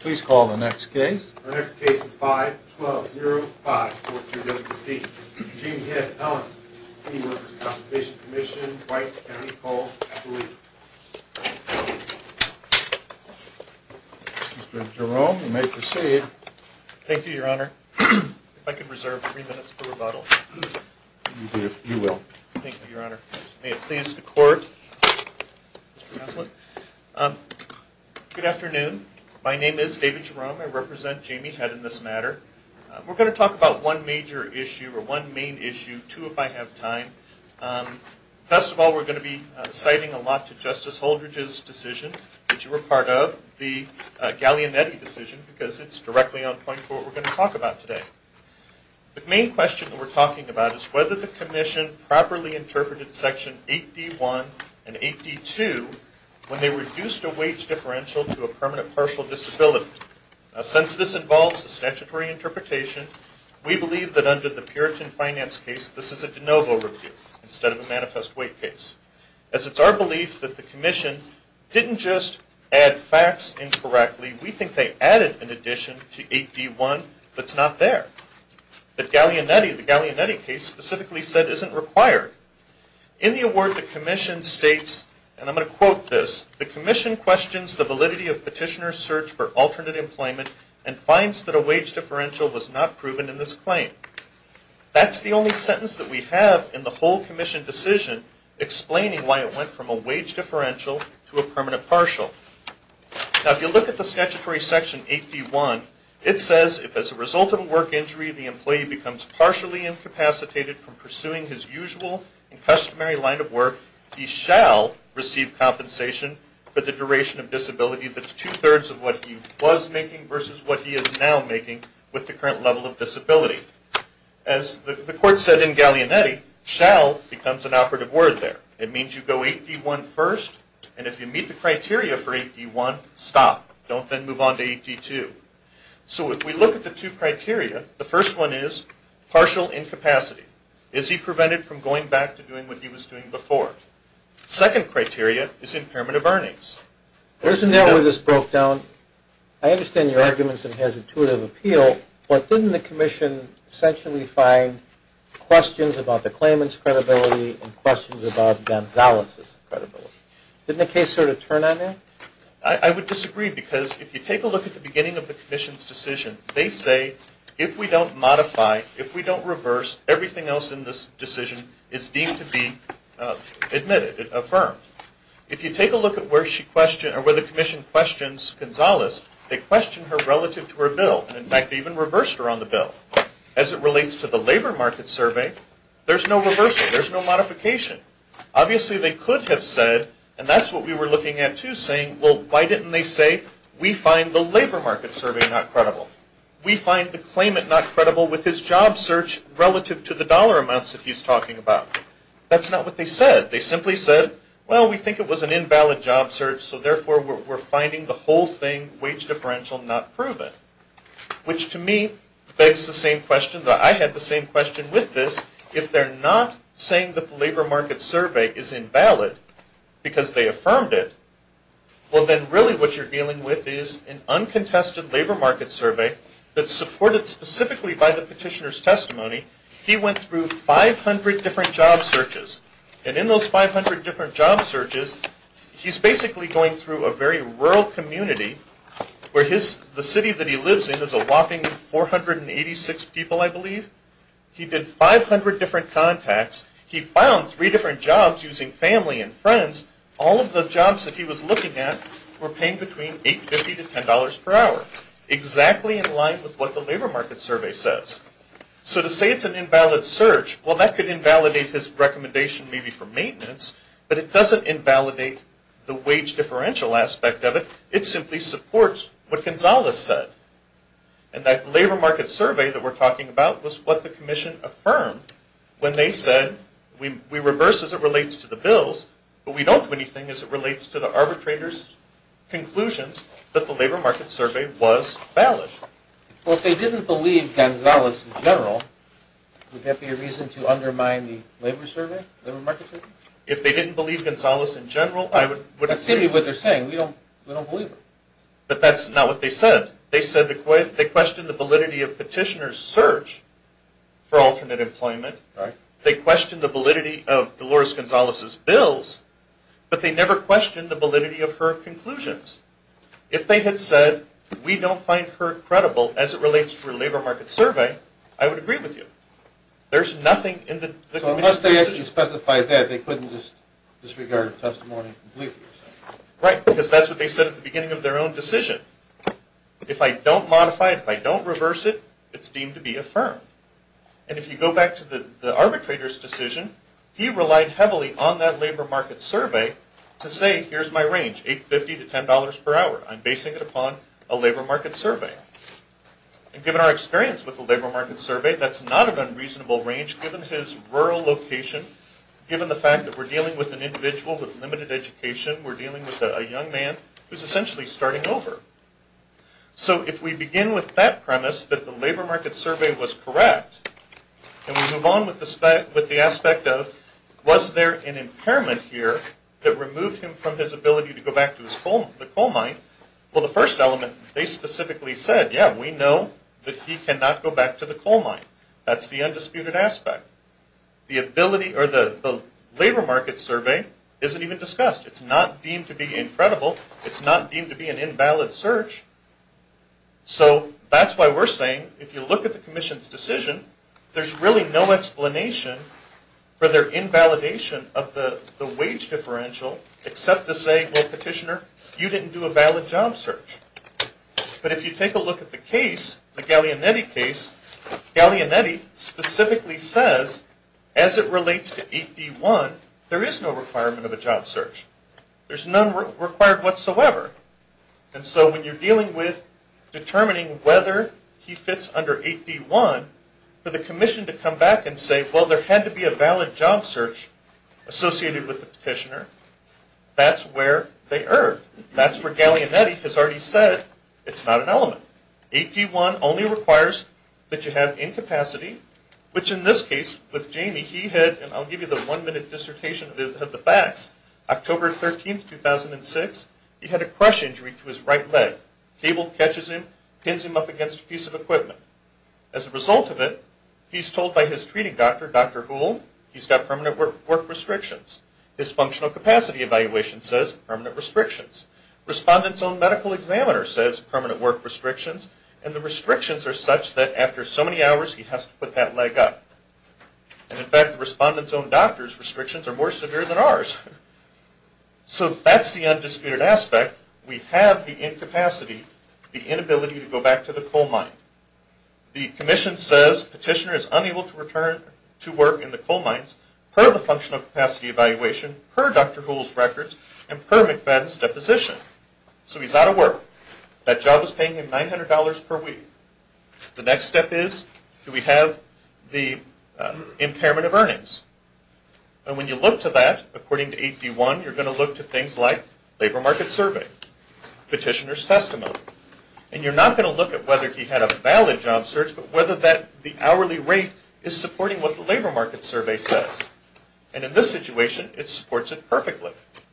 Please call the next case. The next case is 5-12-0-5-4-2-W-C. Jamie Hitt, Ellen, V. Workers' Compensation Comm'n, Dwight, Emily, Cole, Kathleen. Mr. Jerome, you may proceed. Thank you, your honor. If I could reserve three minutes for rebuttal. You will. Thank you, your honor. May it please the court, Excellent. Good afternoon. My name is David Jerome. I represent Jamie Hitt in this matter. We're going to talk about one major issue or one main issue, two if I have time. First of all, we're going to be citing a lot to Justice Holdridge's decision that you were part of, the Gallianetti decision, because it's directly on point for what we're going to talk about today. The main question that we're talking about is whether the commission properly interpreted section 8d1 and 8d2 when they reduced a wage differential to a permanent partial disability. Since this involves a statutory interpretation, we believe that under the Puritan Finance case, this is a de novo review instead of a manifest weight case. As it's our belief that the commission didn't just add facts incorrectly. We think they added an addition to 8d1 that's not there. But Gallianetti, the Gallianetti case, specifically said isn't required. In the award, the commission states, and I'm going to quote this, the commission questions the validity of petitioner's search for alternate employment and finds that a wage differential was not proven in this claim. That's the only sentence that we have in the whole commission decision explaining why it went from a wage differential to a permanent partial. Now if you look at the statutory section 8d1, it says if as a result of a work injury, the employee becomes partially incapacitated from pursuing his usual and customary line of work, he shall receive compensation for the duration of disability that's two-thirds of what he was making versus what he is now making with the current level of disability. As the court said in Gallianetti, shall becomes an operative word there. It means you go 8d1 first and if you meet the criteria for 8d1, stop. Don't then move on to 8d2. So if we look at the two criteria, the first one is partial incapacity. Is he prevented from going back to doing what he was doing before? Second criteria is impairment of earnings. There's a note where this broke down. I understand your arguments and has intuitive appeal, but didn't the commission essentially find questions about the claimant's credibility and questions about Gonzalez's credibility? Didn't the case sort of turn on that? I would disagree because if you take a look at the beginning of the commission's decision, they say if we don't modify, if we don't reverse, everything else in this decision is deemed to be admitted, affirmed. If you take a look at where she questioned or where the commission questions Gonzalez, they questioned her relative to her bill. In fact, they even reversed her on the bill. As it relates to the labor market survey, there's no reversal. There's no modification. Obviously, they could have said, and that's what we were looking at too, saying, well, why didn't they say we find the labor market survey not credible? We find the claimant not credible with his job search relative to the dollar amounts that he's talking about. That's not what they said. They simply said, well, we think it was an invalid job search, so therefore we're finding the whole thing wage differential not proven, which to me begs the same question that I had the same question with this. If they're not saying that the labor market survey is invalid because they affirmed it, well, then really what you're dealing with is an uncontested labor market survey that's supported specifically by the petitioner's testimony. He went through 500 different job searches, and in those 500 different job searches, he's basically going through a very rural community where the city that he lives in is a whopping 486 people, I believe. He did 500 different contacts. He found three different jobs using family and friends. All of the jobs that he was looking at were paying between $8.50 to $10 per hour, exactly in line with what the labor market survey says. So to say it's an invalid search, well, that could invalidate his recommendation maybe for maintenance, but it doesn't invalidate the wage differential aspect of it. It simply supports what Gonzales said. And that labor market survey that we're talking about was what the commission affirmed when they said, we reverse as it relates to the bills, but we don't do anything as it relates to the arbitrator's conclusions that the labor market survey was valid. Well, if they didn't believe Gonzales in general, would that be a reason to undermine the labor market survey? If they didn't believe Gonzales in general, I would... That's simply what they're saying. We don't believe them. But that's not what they said. They questioned the validity of petitioner's search for alternate employment. They questioned the validity of Dolores Gonzales's bills, but they never questioned the validity of her conclusions. If they had said, we don't find her credible as it relates to her labor market survey, I would agree with you. There's nothing in the... So unless they actually specified that, they couldn't just disregard testimony completely. Right, because that's what they said at the beginning of their own decision. If I don't modify it, if I don't reverse it, it's deemed to be affirmed. And if you go back to the arbitrator's decision, he relied heavily on that labor market survey to say, here's my range, $8.50 to $10 per hour. I'm basing it upon a labor market survey. And given our experience with the labor market survey, that's not an unreasonable range given his rural location, given the fact that we're dealing with an individual with limited education, we're dealing with a young man who's essentially starting over. So if we begin with that premise that the labor market survey was correct, and we move on with the aspect of, was there an impairment here that removed him from his ability to go back to his coal, the coal mine? Well, the first element, they specifically said, yeah, we know that he cannot go back to the coal mine. That's the undisputed aspect. The ability or the labor market survey isn't even discussed. It's not deemed to be credible. It's not deemed to be an invalid search. So that's why we're saying, if you look at the Commission's decision, there's really no explanation for their invalidation of the wage differential except to say, well, Petitioner, you didn't do a valid job search. But if you take a look at the case, the Gallianetti case, Gallianetti specifically says, as it relates to 8b1, there is no requirement of a job search. There's none required whatsoever. And so when you're dealing with determining whether he fits under 8b1, for the Commission to come back and say, well, there had to be a valid job search associated with the Petitioner, that's where they erred. That's where Gallianetti has already said it's not an element. 8b1 only requires that you have incapacity, which in this case, with Jamie, he had, and I'll give you the one-minute dissertation of the facts, October 13, 2006, he had a crush injury to his right leg. Cable catches him, pins him up against a piece of equipment. As a result of it, he's told by his treating doctor, Dr. Houle, he's got permanent work restrictions. His functional capacity evaluation says permanent restrictions. Respondent's own medical examiner says permanent work restrictions. And the restrictions are such that after so many hours, he has to put that leg up. And in fact, the respondent's own doctor's restrictions are more severe than ours. So that's the undisputed aspect. We have the incapacity, the inability to go back to the coal mine. The Commission says Petitioner is unable to return to work in the coal mines per the functional capacity evaluation, per Dr. Houle's records, and per McFadden's deposition. So he's out of work. That job is paying him $900 per week. The next step is, do we have the impairment of earnings? And when you look to that, according to 8D1, you're going to look to things like labor market survey, petitioner's testimony. And you're not going to look at whether he had a valid job search, but whether that, the hourly rate is supporting what the labor market survey says. And in this situation, it supports it perfectly.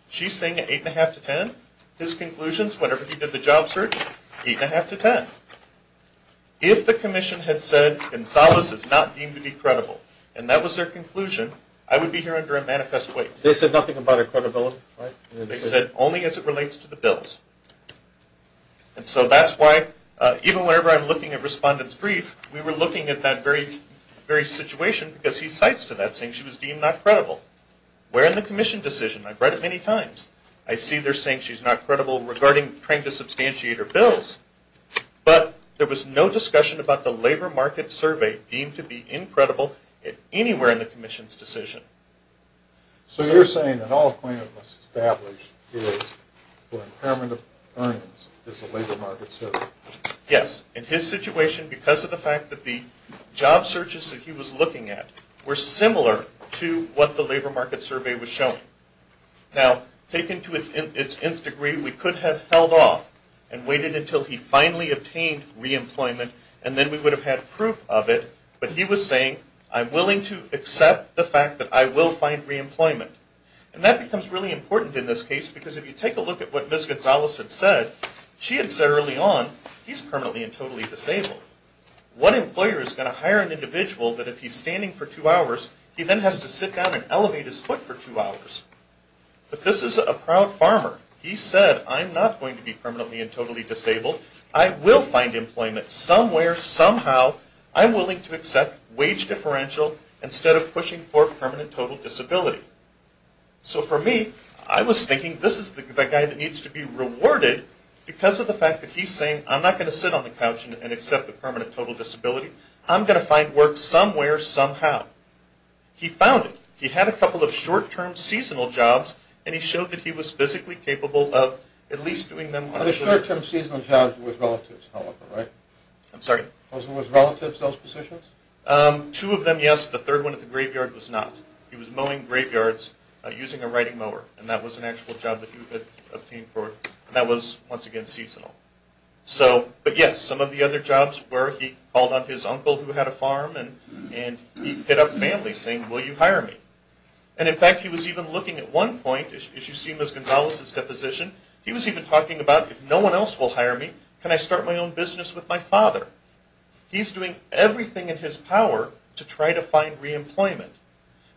She's saying an 8.5 to 10. His conclusions, whenever he did the job search, 8.5 to 10. If the Commission had said Gonzalez is not deemed to be credible, and that was their conclusion, I would be here under a manifest waive. They said nothing about her credibility, right? They said only as it relates to the bills. And so that's why, even whenever I'm looking at Respondent's brief, we were looking at that very situation because he cites to that, saying she was deemed not credible. Where in the Commission decision? I've read it many times. I see they're saying she's not credible regarding trying to substantiate her bills. But there was no discussion about the labor market survey deemed to be incredible anywhere in the Commission's decision. So you're saying that all claimants established is for impairment of earnings is the labor market survey? Yes. In his situation, because of the fact that the job searches that he was looking at were similar to what the labor market survey was showing. Now, taken to its nth degree, we could have held off and waited until he finally obtained reemployment, and then we would have had proof of it. But he was saying, I'm willing to accept the fact that I will find reemployment. And that becomes really important in this case, because if you take a look at what Ms. Gonzalez had said, she had said early on, he's permanently and totally disabled. What employer is going to hire an individual that if he's standing for two hours, he then has to sit down and elevate his foot for two hours? But this is a proud farmer. He said, I'm not going to be permanently and totally disabled. I will find employment somewhere, somehow. I'm willing to accept wage differential, instead of pushing for permanent total disability. So for me, I was thinking, this is the guy that needs to be rewarded, because of the fact that he's saying, I'm not going to sit on the couch and accept the permanent total disability. I'm going to find work somewhere, somehow. He found it. He had a couple of short-term seasonal jobs, and he showed that he was physically capable of at least doing them. The short-term seasonal jobs were with relatives, however, right? I'm sorry? Those were with relatives, those positions? Two of them, yes. The third one at the graveyard was not. He was mowing graveyards using a writing mower, and that was an actual job that he had obtained for, and that was, once again, seasonal. But yes, some of the other jobs were, he called on his uncle who had a farm, and he hit up families saying, will you hire me? And in fact, he was even looking at one point, as you see in Ms. Gonzalez's deposition, he was even talking about, if no one else will hire me, can I start my own business with my father? He's doing everything in his power to try to find re-employment.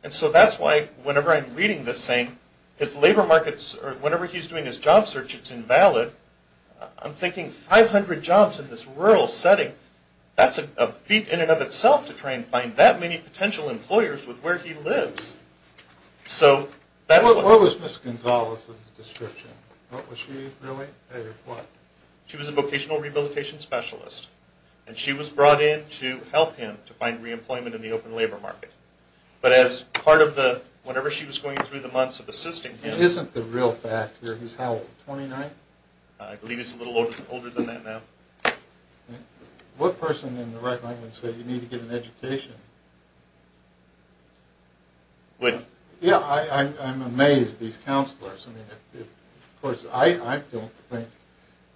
And so that's why, whenever I'm reading this saying, his labor markets, or whenever he's doing his job search, it's invalid. I'm thinking, 500 jobs in this rural setting, that's a feat in and of itself to try and find that many potential employers with where he lives. So, that's why. What was Ms. Gonzalez's description? Was she really a, what? She was a vocational rehabilitation specialist, and she was brought in to help him to find re-employment in the open labor market. But as part of the, whenever she was going through the months of assisting him- Isn't the real factor, he's how old, 29? I believe he's a little older than that now. What person in the right mind would say, you need to get an education? What? Yeah, I'm amazed, these counselors. I mean, of course, I don't think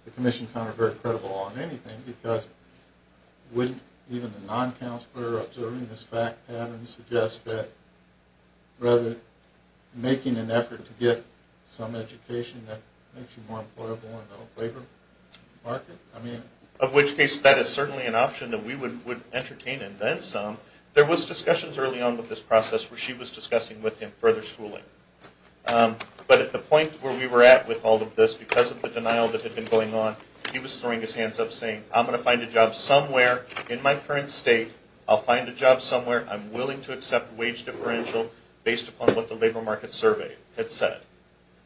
the commission found her very credible on anything, because wouldn't even a non-counselor observing this fact pattern suggest that, rather than making an effort to get some education that makes you more employable in the labor market? I mean- Of which case, that is certainly an option that we would entertain and then some. There was discussions early on with this process where she was discussing with him further schooling. But at the point where we were at with all of this, because of the denial that had been going on, he was throwing his hands up saying, I'm going to find a job somewhere in my current state. I'll find a job somewhere. I'm willing to accept wage differential based upon what the labor market survey had said.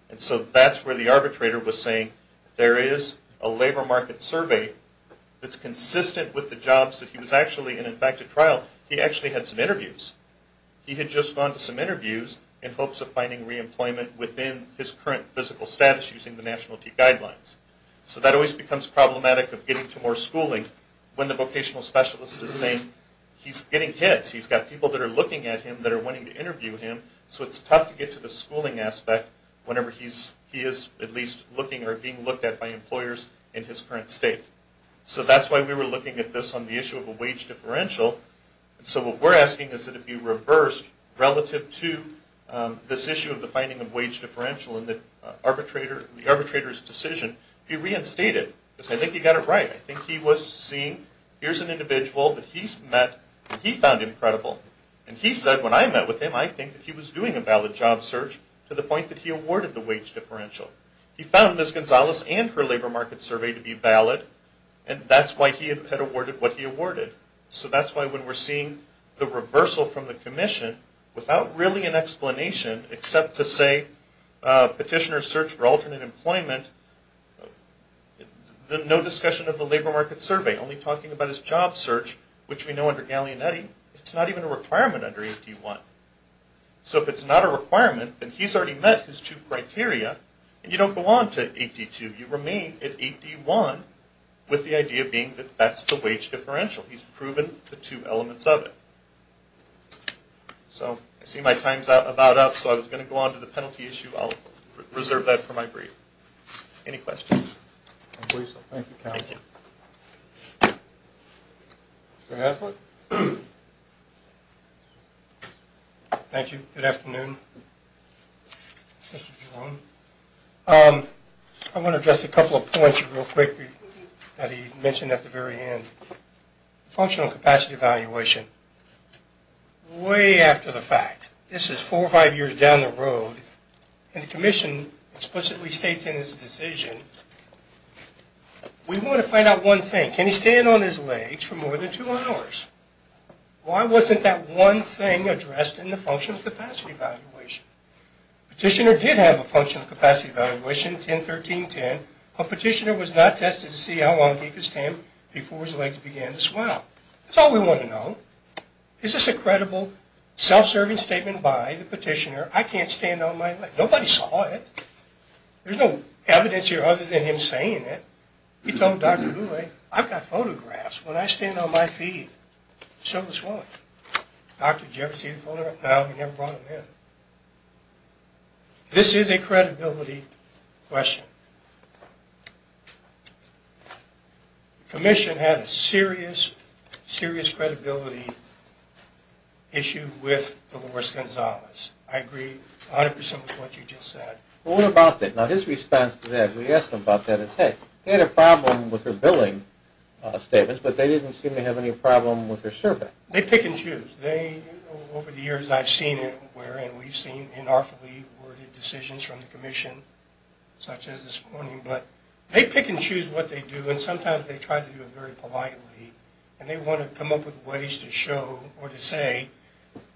And so that's where the arbitrator was saying, there is a labor market survey that's consistent with the jobs that he was actually in. He had just gone to some interviews in hopes of finding re-employment within his current physical status using the nationality guidelines. So that always becomes problematic of getting to more schooling when the vocational specialist is saying, he's getting hits. He's got people that are looking at him that are wanting to interview him. So it's tough to get to the schooling aspect whenever he is at least looking or being looked at by employers in his current state. So that's why we were looking at this on the issue of a wage differential. And so what we're asking is that it be reversed relative to this issue of the finding of wage differential in the arbitrator's decision. He reinstated it because I think he got it right. I think he was seeing, here's an individual that he's met that he found incredible. And he said, when I met with him, I think that he was doing a valid job search to the point that he awarded the wage differential. He found Ms. Gonzalez and her labor market survey to be valid. And that's why he had awarded what he awarded. So that's why when we're seeing the reversal from the commission without really an explanation, except to say petitioners search for alternate employment, no discussion of the labor market survey, only talking about his job search, which we know under Gallianetti, it's not even a requirement under 8D1. So if it's not a requirement, then he's already met his two criteria. And you don't go on to 8D2. You remain at 8D1 with the idea being that that's the wage differential. He's proven the two elements of it. So I see my time's about up. So I was going to go on to the penalty issue. I'll reserve that for my brief. Any questions? I believe so. Thank you, counsel. Mr. Haslund? Thank you. Good afternoon, Mr. Giron. I want to address a couple of points real quick that he mentioned at the very end. Functional capacity evaluation. Way after the fact. This is four or five years down the road. And the commission explicitly states in his decision, we want to find out one thing. Can he stand on his legs for more than two hours? Why wasn't that one thing addressed in the functional capacity evaluation? Petitioner did have a functional capacity evaluation, 10-13-10, but petitioner was not tested to see how long he could stand before his legs began to swell. That's all we want to know. Is this a credible, self-serving statement by the petitioner? I can't stand on my legs. Nobody saw it. There's no evidence here other than him saying it. He told Dr. Boulay, I've got photographs. When I stand on my feet, so does one. Dr., did you ever see the photograph? No, he never brought them in. This is a credibility question. The commission has a serious, serious credibility issue with Dolores Gonzalez. I agree 100% with what you just said. Well, what about that? Now, his response to that, we asked him about that, is, hey, they had a problem with her billing statements, but they didn't seem to have any problem with her survey. They pick and choose. Over the years, I've seen it where, and we've seen in awfully worded decisions from the commission, such as this morning, but they pick and choose what they do. And sometimes they try to do it very politely. And they want to come up with ways to show or to say,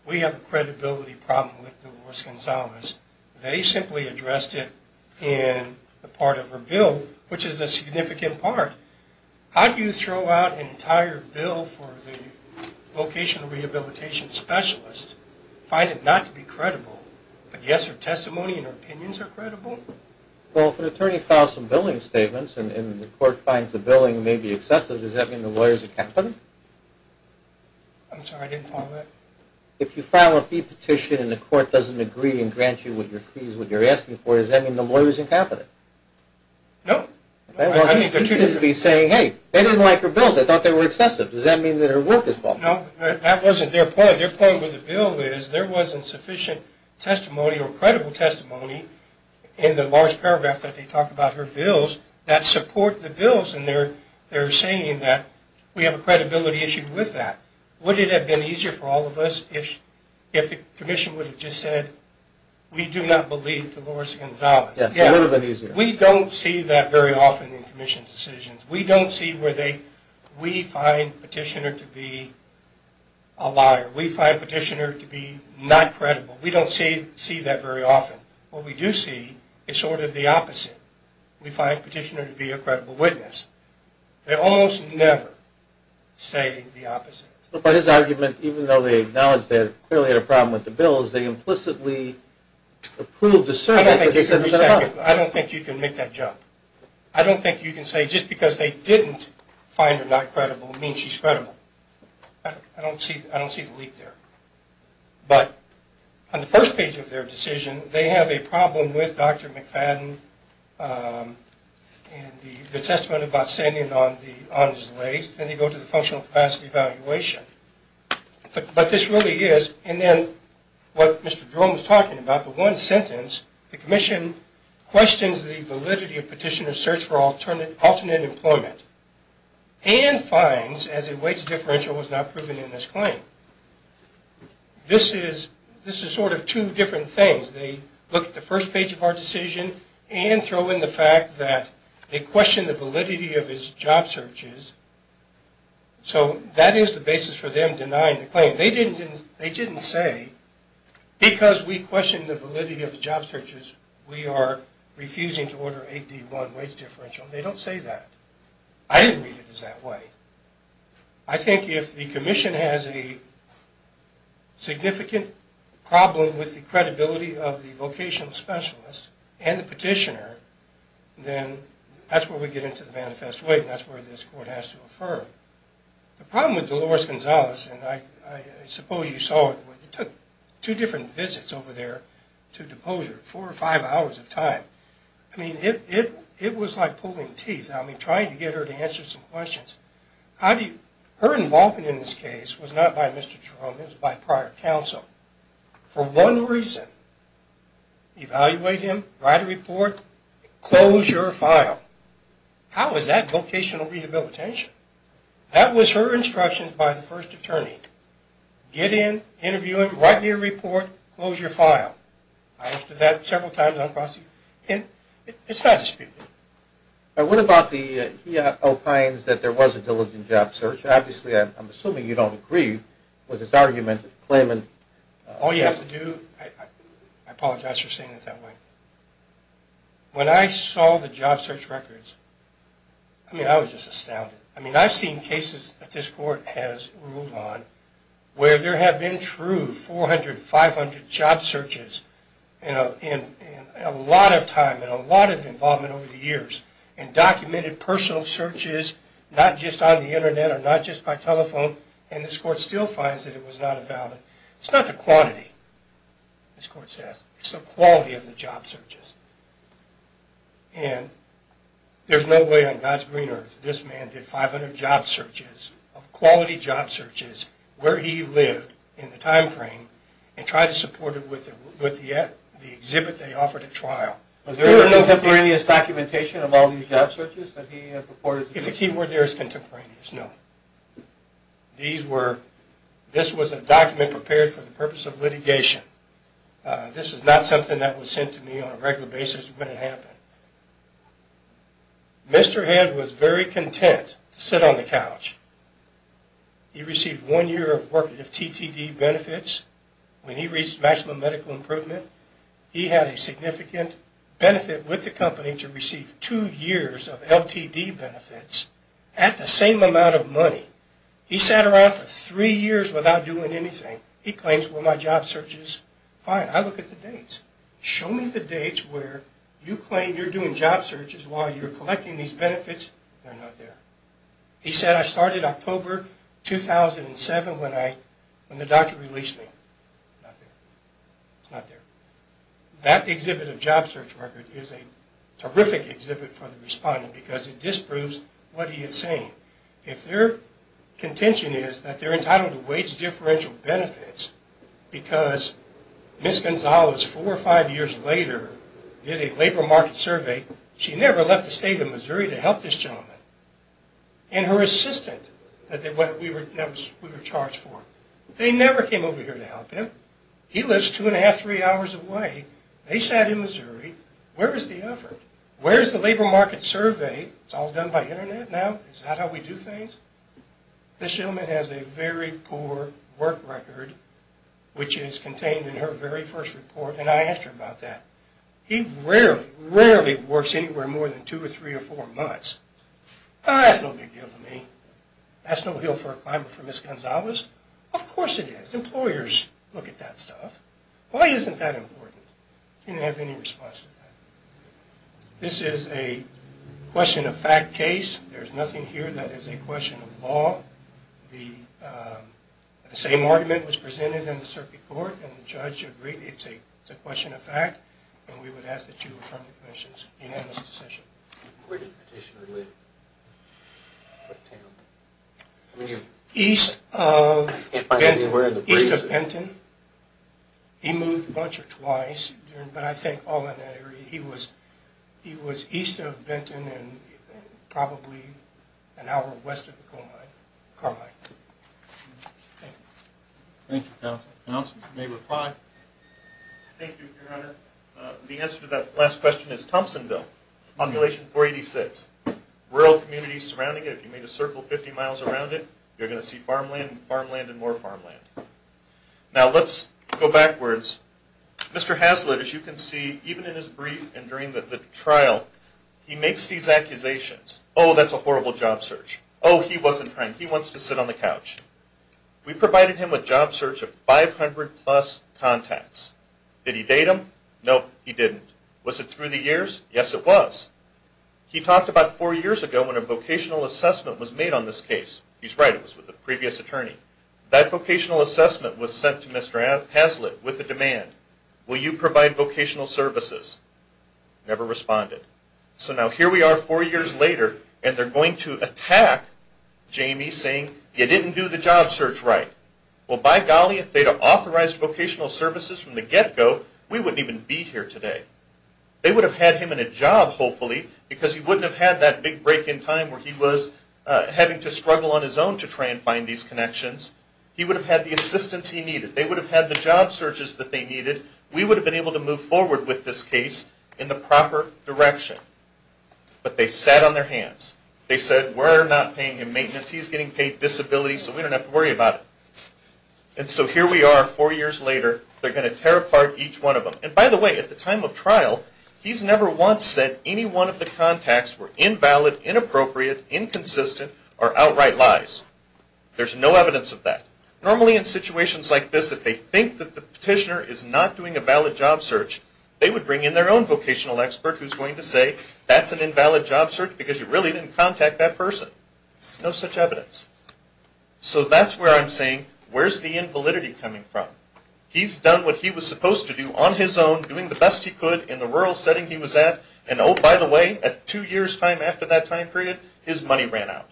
we have a credibility problem with Dolores Gonzalez. They simply addressed it in the part of her bill, which is a significant part. How do you throw out an entire bill for the vocational rehabilitation specialist, but yes, her testimony and her opinions are credible? Well, if an attorney files some billing statements, and the court finds the billing may be excessive, does that mean the lawyer is incompetent? I'm sorry. I didn't follow that. If you file a fee petition, and the court doesn't agree and grant you with your fees, what you're asking for, does that mean the lawyer is incompetent? No. I mean, the truth is to be saying, hey, they didn't like her bills. I thought they were excessive. Does that mean that her work is faulty? No. That wasn't their point. Their point with the bill is, there wasn't sufficient testimony or credible testimony in the large paragraph that they talk about her bills that support the bills. And they're saying that we have a credibility issue with that. Would it have been easier for all of us if the commission would have just said, we do not believe Dolores Gonzalez? Yes, it would have been easier. We don't see that very often in commission decisions. We don't see where we find petitioner to be a liar. We find petitioner to be not credible. We don't see that very often. What we do see is sort of the opposite. We find petitioner to be a credible witness. They almost never say the opposite. But his argument, even though they acknowledge they clearly had a problem with the bills, they implicitly approved the service that they said was going to help. I don't think you can make that jump. I don't think you can say just because they didn't find her not credible means she's credible. I don't see the leap there. But on the first page of their decision, they have a problem with Dr. McFadden and the testament about standing on his legs. Then they go to the functional capacity evaluation. But this really is. And then what Mr. Jerome was talking about, the one sentence, the commission questions the validity of petitioner's search for alternate employment and fines as a wage differential was not proven in this claim. This is sort of two different things. They look at the first page of our decision and throw in the fact that they question the validity of his job searches. So that is the basis for them denying the claim. They didn't say, because we question the validity of the job searches, we are refusing to order 8D1 wage differential. They don't say that. I didn't read it as that way. I think if the commission has a significant problem with the credibility of the vocational specialist and the petitioner, then that's where we get into the manifest way. And that's where this court has to affirm. The problem with Dolores Gonzalez, and I suppose you saw it, it took two different visits over there to depose her, four or five hours of time. I mean, it was like pulling teeth. I mean, trying to get her to answer some questions. Her involvement in this case was not by Mr. Jerome. It was by prior counsel. For one reason, evaluate him, write a report, close your file. How is that vocational rehabilitation? That was her instructions by the first attorney. Get in, interview him, write me a report, close your file. I asked her that several times. And it's not disputed. What about he opines that there was a diligent job search? Obviously, I'm assuming you don't agree with his argument claiming all you have to do. I apologize for saying it that way. When I saw the job search records, I mean, I was just astounded. I mean, I've seen cases that this court has ruled on where there have been true 400, 500 job searches in a lot of time and a lot of involvement over the years and documented personal searches, not just on the internet or not just by telephone. And this court still finds that it was not valid. It's not the quantity, this court says. It's the quality of the job searches. And there's no way on God's green earth this man did 500 job searches of quality job searches where he lived in the time frame and tried to support it with the exhibit they offered at trial. Was there contemporaneous documentation of all these job searches that he purported? If the key word there is contemporaneous, no. These were, this was a document prepared for the purpose of litigation. This is not something that was sent to me on a regular basis when it happened. Mr. Head was very content to sit on the couch. He received one year of work with TTD benefits. When he reached maximum medical improvement, he had a significant benefit with the company to receive two years of LTD benefits at the same amount of money. He sat around for three years without doing anything. He claims, well, my job search is fine. I look at the dates. Show me the dates where you claim you're doing job searches while you're collecting these benefits. They're not there. He said, I started October 2007 when the doctor released me. Not there. It's not there. That exhibit of job search record is a terrific exhibit for the respondent because it disproves what he is saying. If their contention is that they're entitled to wage differential benefits because Ms. Gonzalez four or five years later did a labor market survey, she never left the state of Missouri to help this gentleman. And her assistant that we were charged for, they never came over here to help him. He lives two and a half, three hours away. They sat in Missouri. Where is the effort? Where's the labor market survey? It's all done by internet now. Is that how we do things? This gentleman has a very poor work record which is contained in her very first report. And I asked her about that. He rarely, rarely works anywhere more than two or three or four months. That's no big deal to me. That's no hill for a climber for Ms. Gonzalez. Of course it is. Employers look at that stuff. Why isn't that important? He didn't have any response to that. This is a question of fact case. There's nothing here that is a question of law. The same argument was presented in the circuit court and the judge agreed it's a question of fact. And we would ask that you affirm the commission's unanimous decision. Where did the petitioner live? What town? East of Benton. He moved a bunch or twice, but I think all in that area. He was east of Benton and probably an hour west of Carmine. Thank you, counsel. Counsel, you may reply. Thank you, your honor. The answer to that last question is Thompsonville. Population 486. Rural communities surrounding it. If you made a circle 50 miles around it, you're going to see farmland and farmland and more farmland. Now let's go backwards. Mr. Haslett, as you can see, even in his brief and during the trial, he makes these accusations. Oh, that's a horrible job search. Oh, he wasn't trying. He wants to sit on the couch. We provided him with job search of 500 plus contacts. Did he date them? No, he didn't. Was it through the years? Yes, it was. He talked about four years ago when a vocational assessment was made on this case. He's right. It was with the previous attorney. That vocational assessment was sent to Mr. Haslett with a demand. Will you provide vocational services? Never responded. So now here we are four years later and they're going to attack Jamie saying, you didn't do the job search right. Well, by golly, if they'd have authorized vocational services from the get-go, we wouldn't even be here today. They would have had him in a job, hopefully, because he wouldn't have had that big break in time where he was having to struggle on his own to try and find these connections. He would have had the assistance he needed. They would have had the job searches that they needed. We would have been able to move forward with this case in the proper direction. But they sat on their hands. They said, we're not paying him maintenance. He's getting paid disability, so we don't have to worry about it. And so here we are four years later. They're going to tear apart each one of them. And by the way, at the time of trial, he's never once said any one of the contacts were invalid, inappropriate, inconsistent, or outright lies. There's no evidence of that. Normally, in situations like this, if they think that the petitioner is not doing a valid job search, they would bring in their own vocational expert who's going to say, that's an invalid job search because you really didn't contact that person. No such evidence. So that's where I'm saying, where's the invalidity coming from? He's done what he was supposed to do on his own, doing the best he could in the rural setting he was at. And oh, by the way, at two years time after that time period, his money ran out.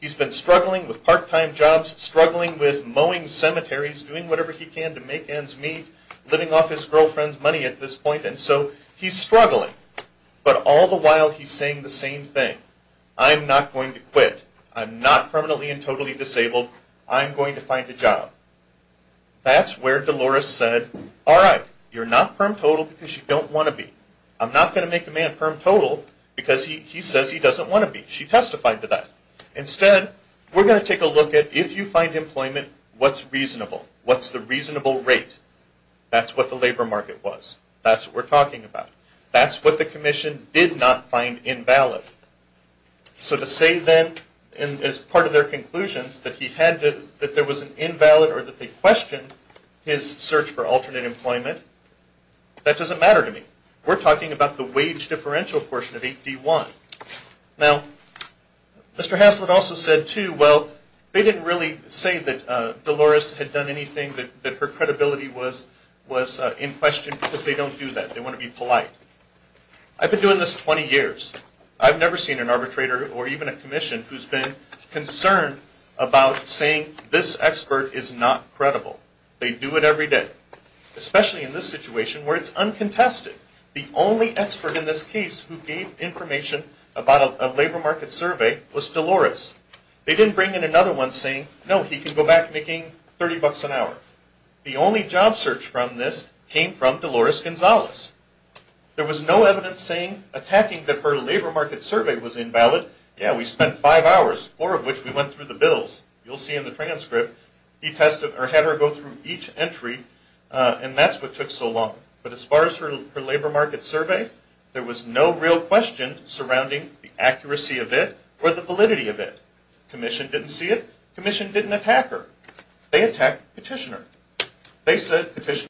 He's been struggling with part-time jobs, struggling with mowing cemeteries, doing whatever he can to make ends meet, living off his girlfriend's money at this point. And so he's struggling. But all the while, he's saying the same thing. I'm not going to quit. I'm not permanently and totally disabled. I'm going to find a job. That's where Dolores said, all right, you're not perm-total because you don't want to be. I'm not going to make a man perm-total because he says he doesn't want to be. She testified to that. Instead, we're going to take a look at, if you find employment, what's reasonable? What's the reasonable rate? That's what the labor market was. That's what we're talking about. That's what the commission did not find invalid. So to say then, as part of their conclusions, that he had to, that there was an invalid or that they questioned his search for alternate employment, that doesn't matter to me. We're talking about the wage differential portion of 8D1. Now, Mr. Haslett also said too, well, they didn't really say that Dolores had done anything that her credibility was in question because they don't do that. They want to be polite. I've been doing this 20 years. I've never seen an arbitrator or even a commission who's been concerned about saying this expert is not credible. They do it every day, especially in this situation where it's uncontested. The only expert in this case who gave information about a labor market survey was Dolores. They didn't bring in another one saying, no, he can go back making 30 bucks an hour. The only job search from this came from Dolores Gonzalez. There was no evidence saying, attacking that her labor market survey was invalid. Yeah, we spent five hours, four of which we went through the bills. You'll see in the transcript. He tested or had her go through each entry and that's what took so long. But as far as her labor market survey, there was no real question surrounding the accuracy of it or the validity of it. Commission didn't see it. Commission didn't attack her. They attacked Petitioner. They said Petitioner...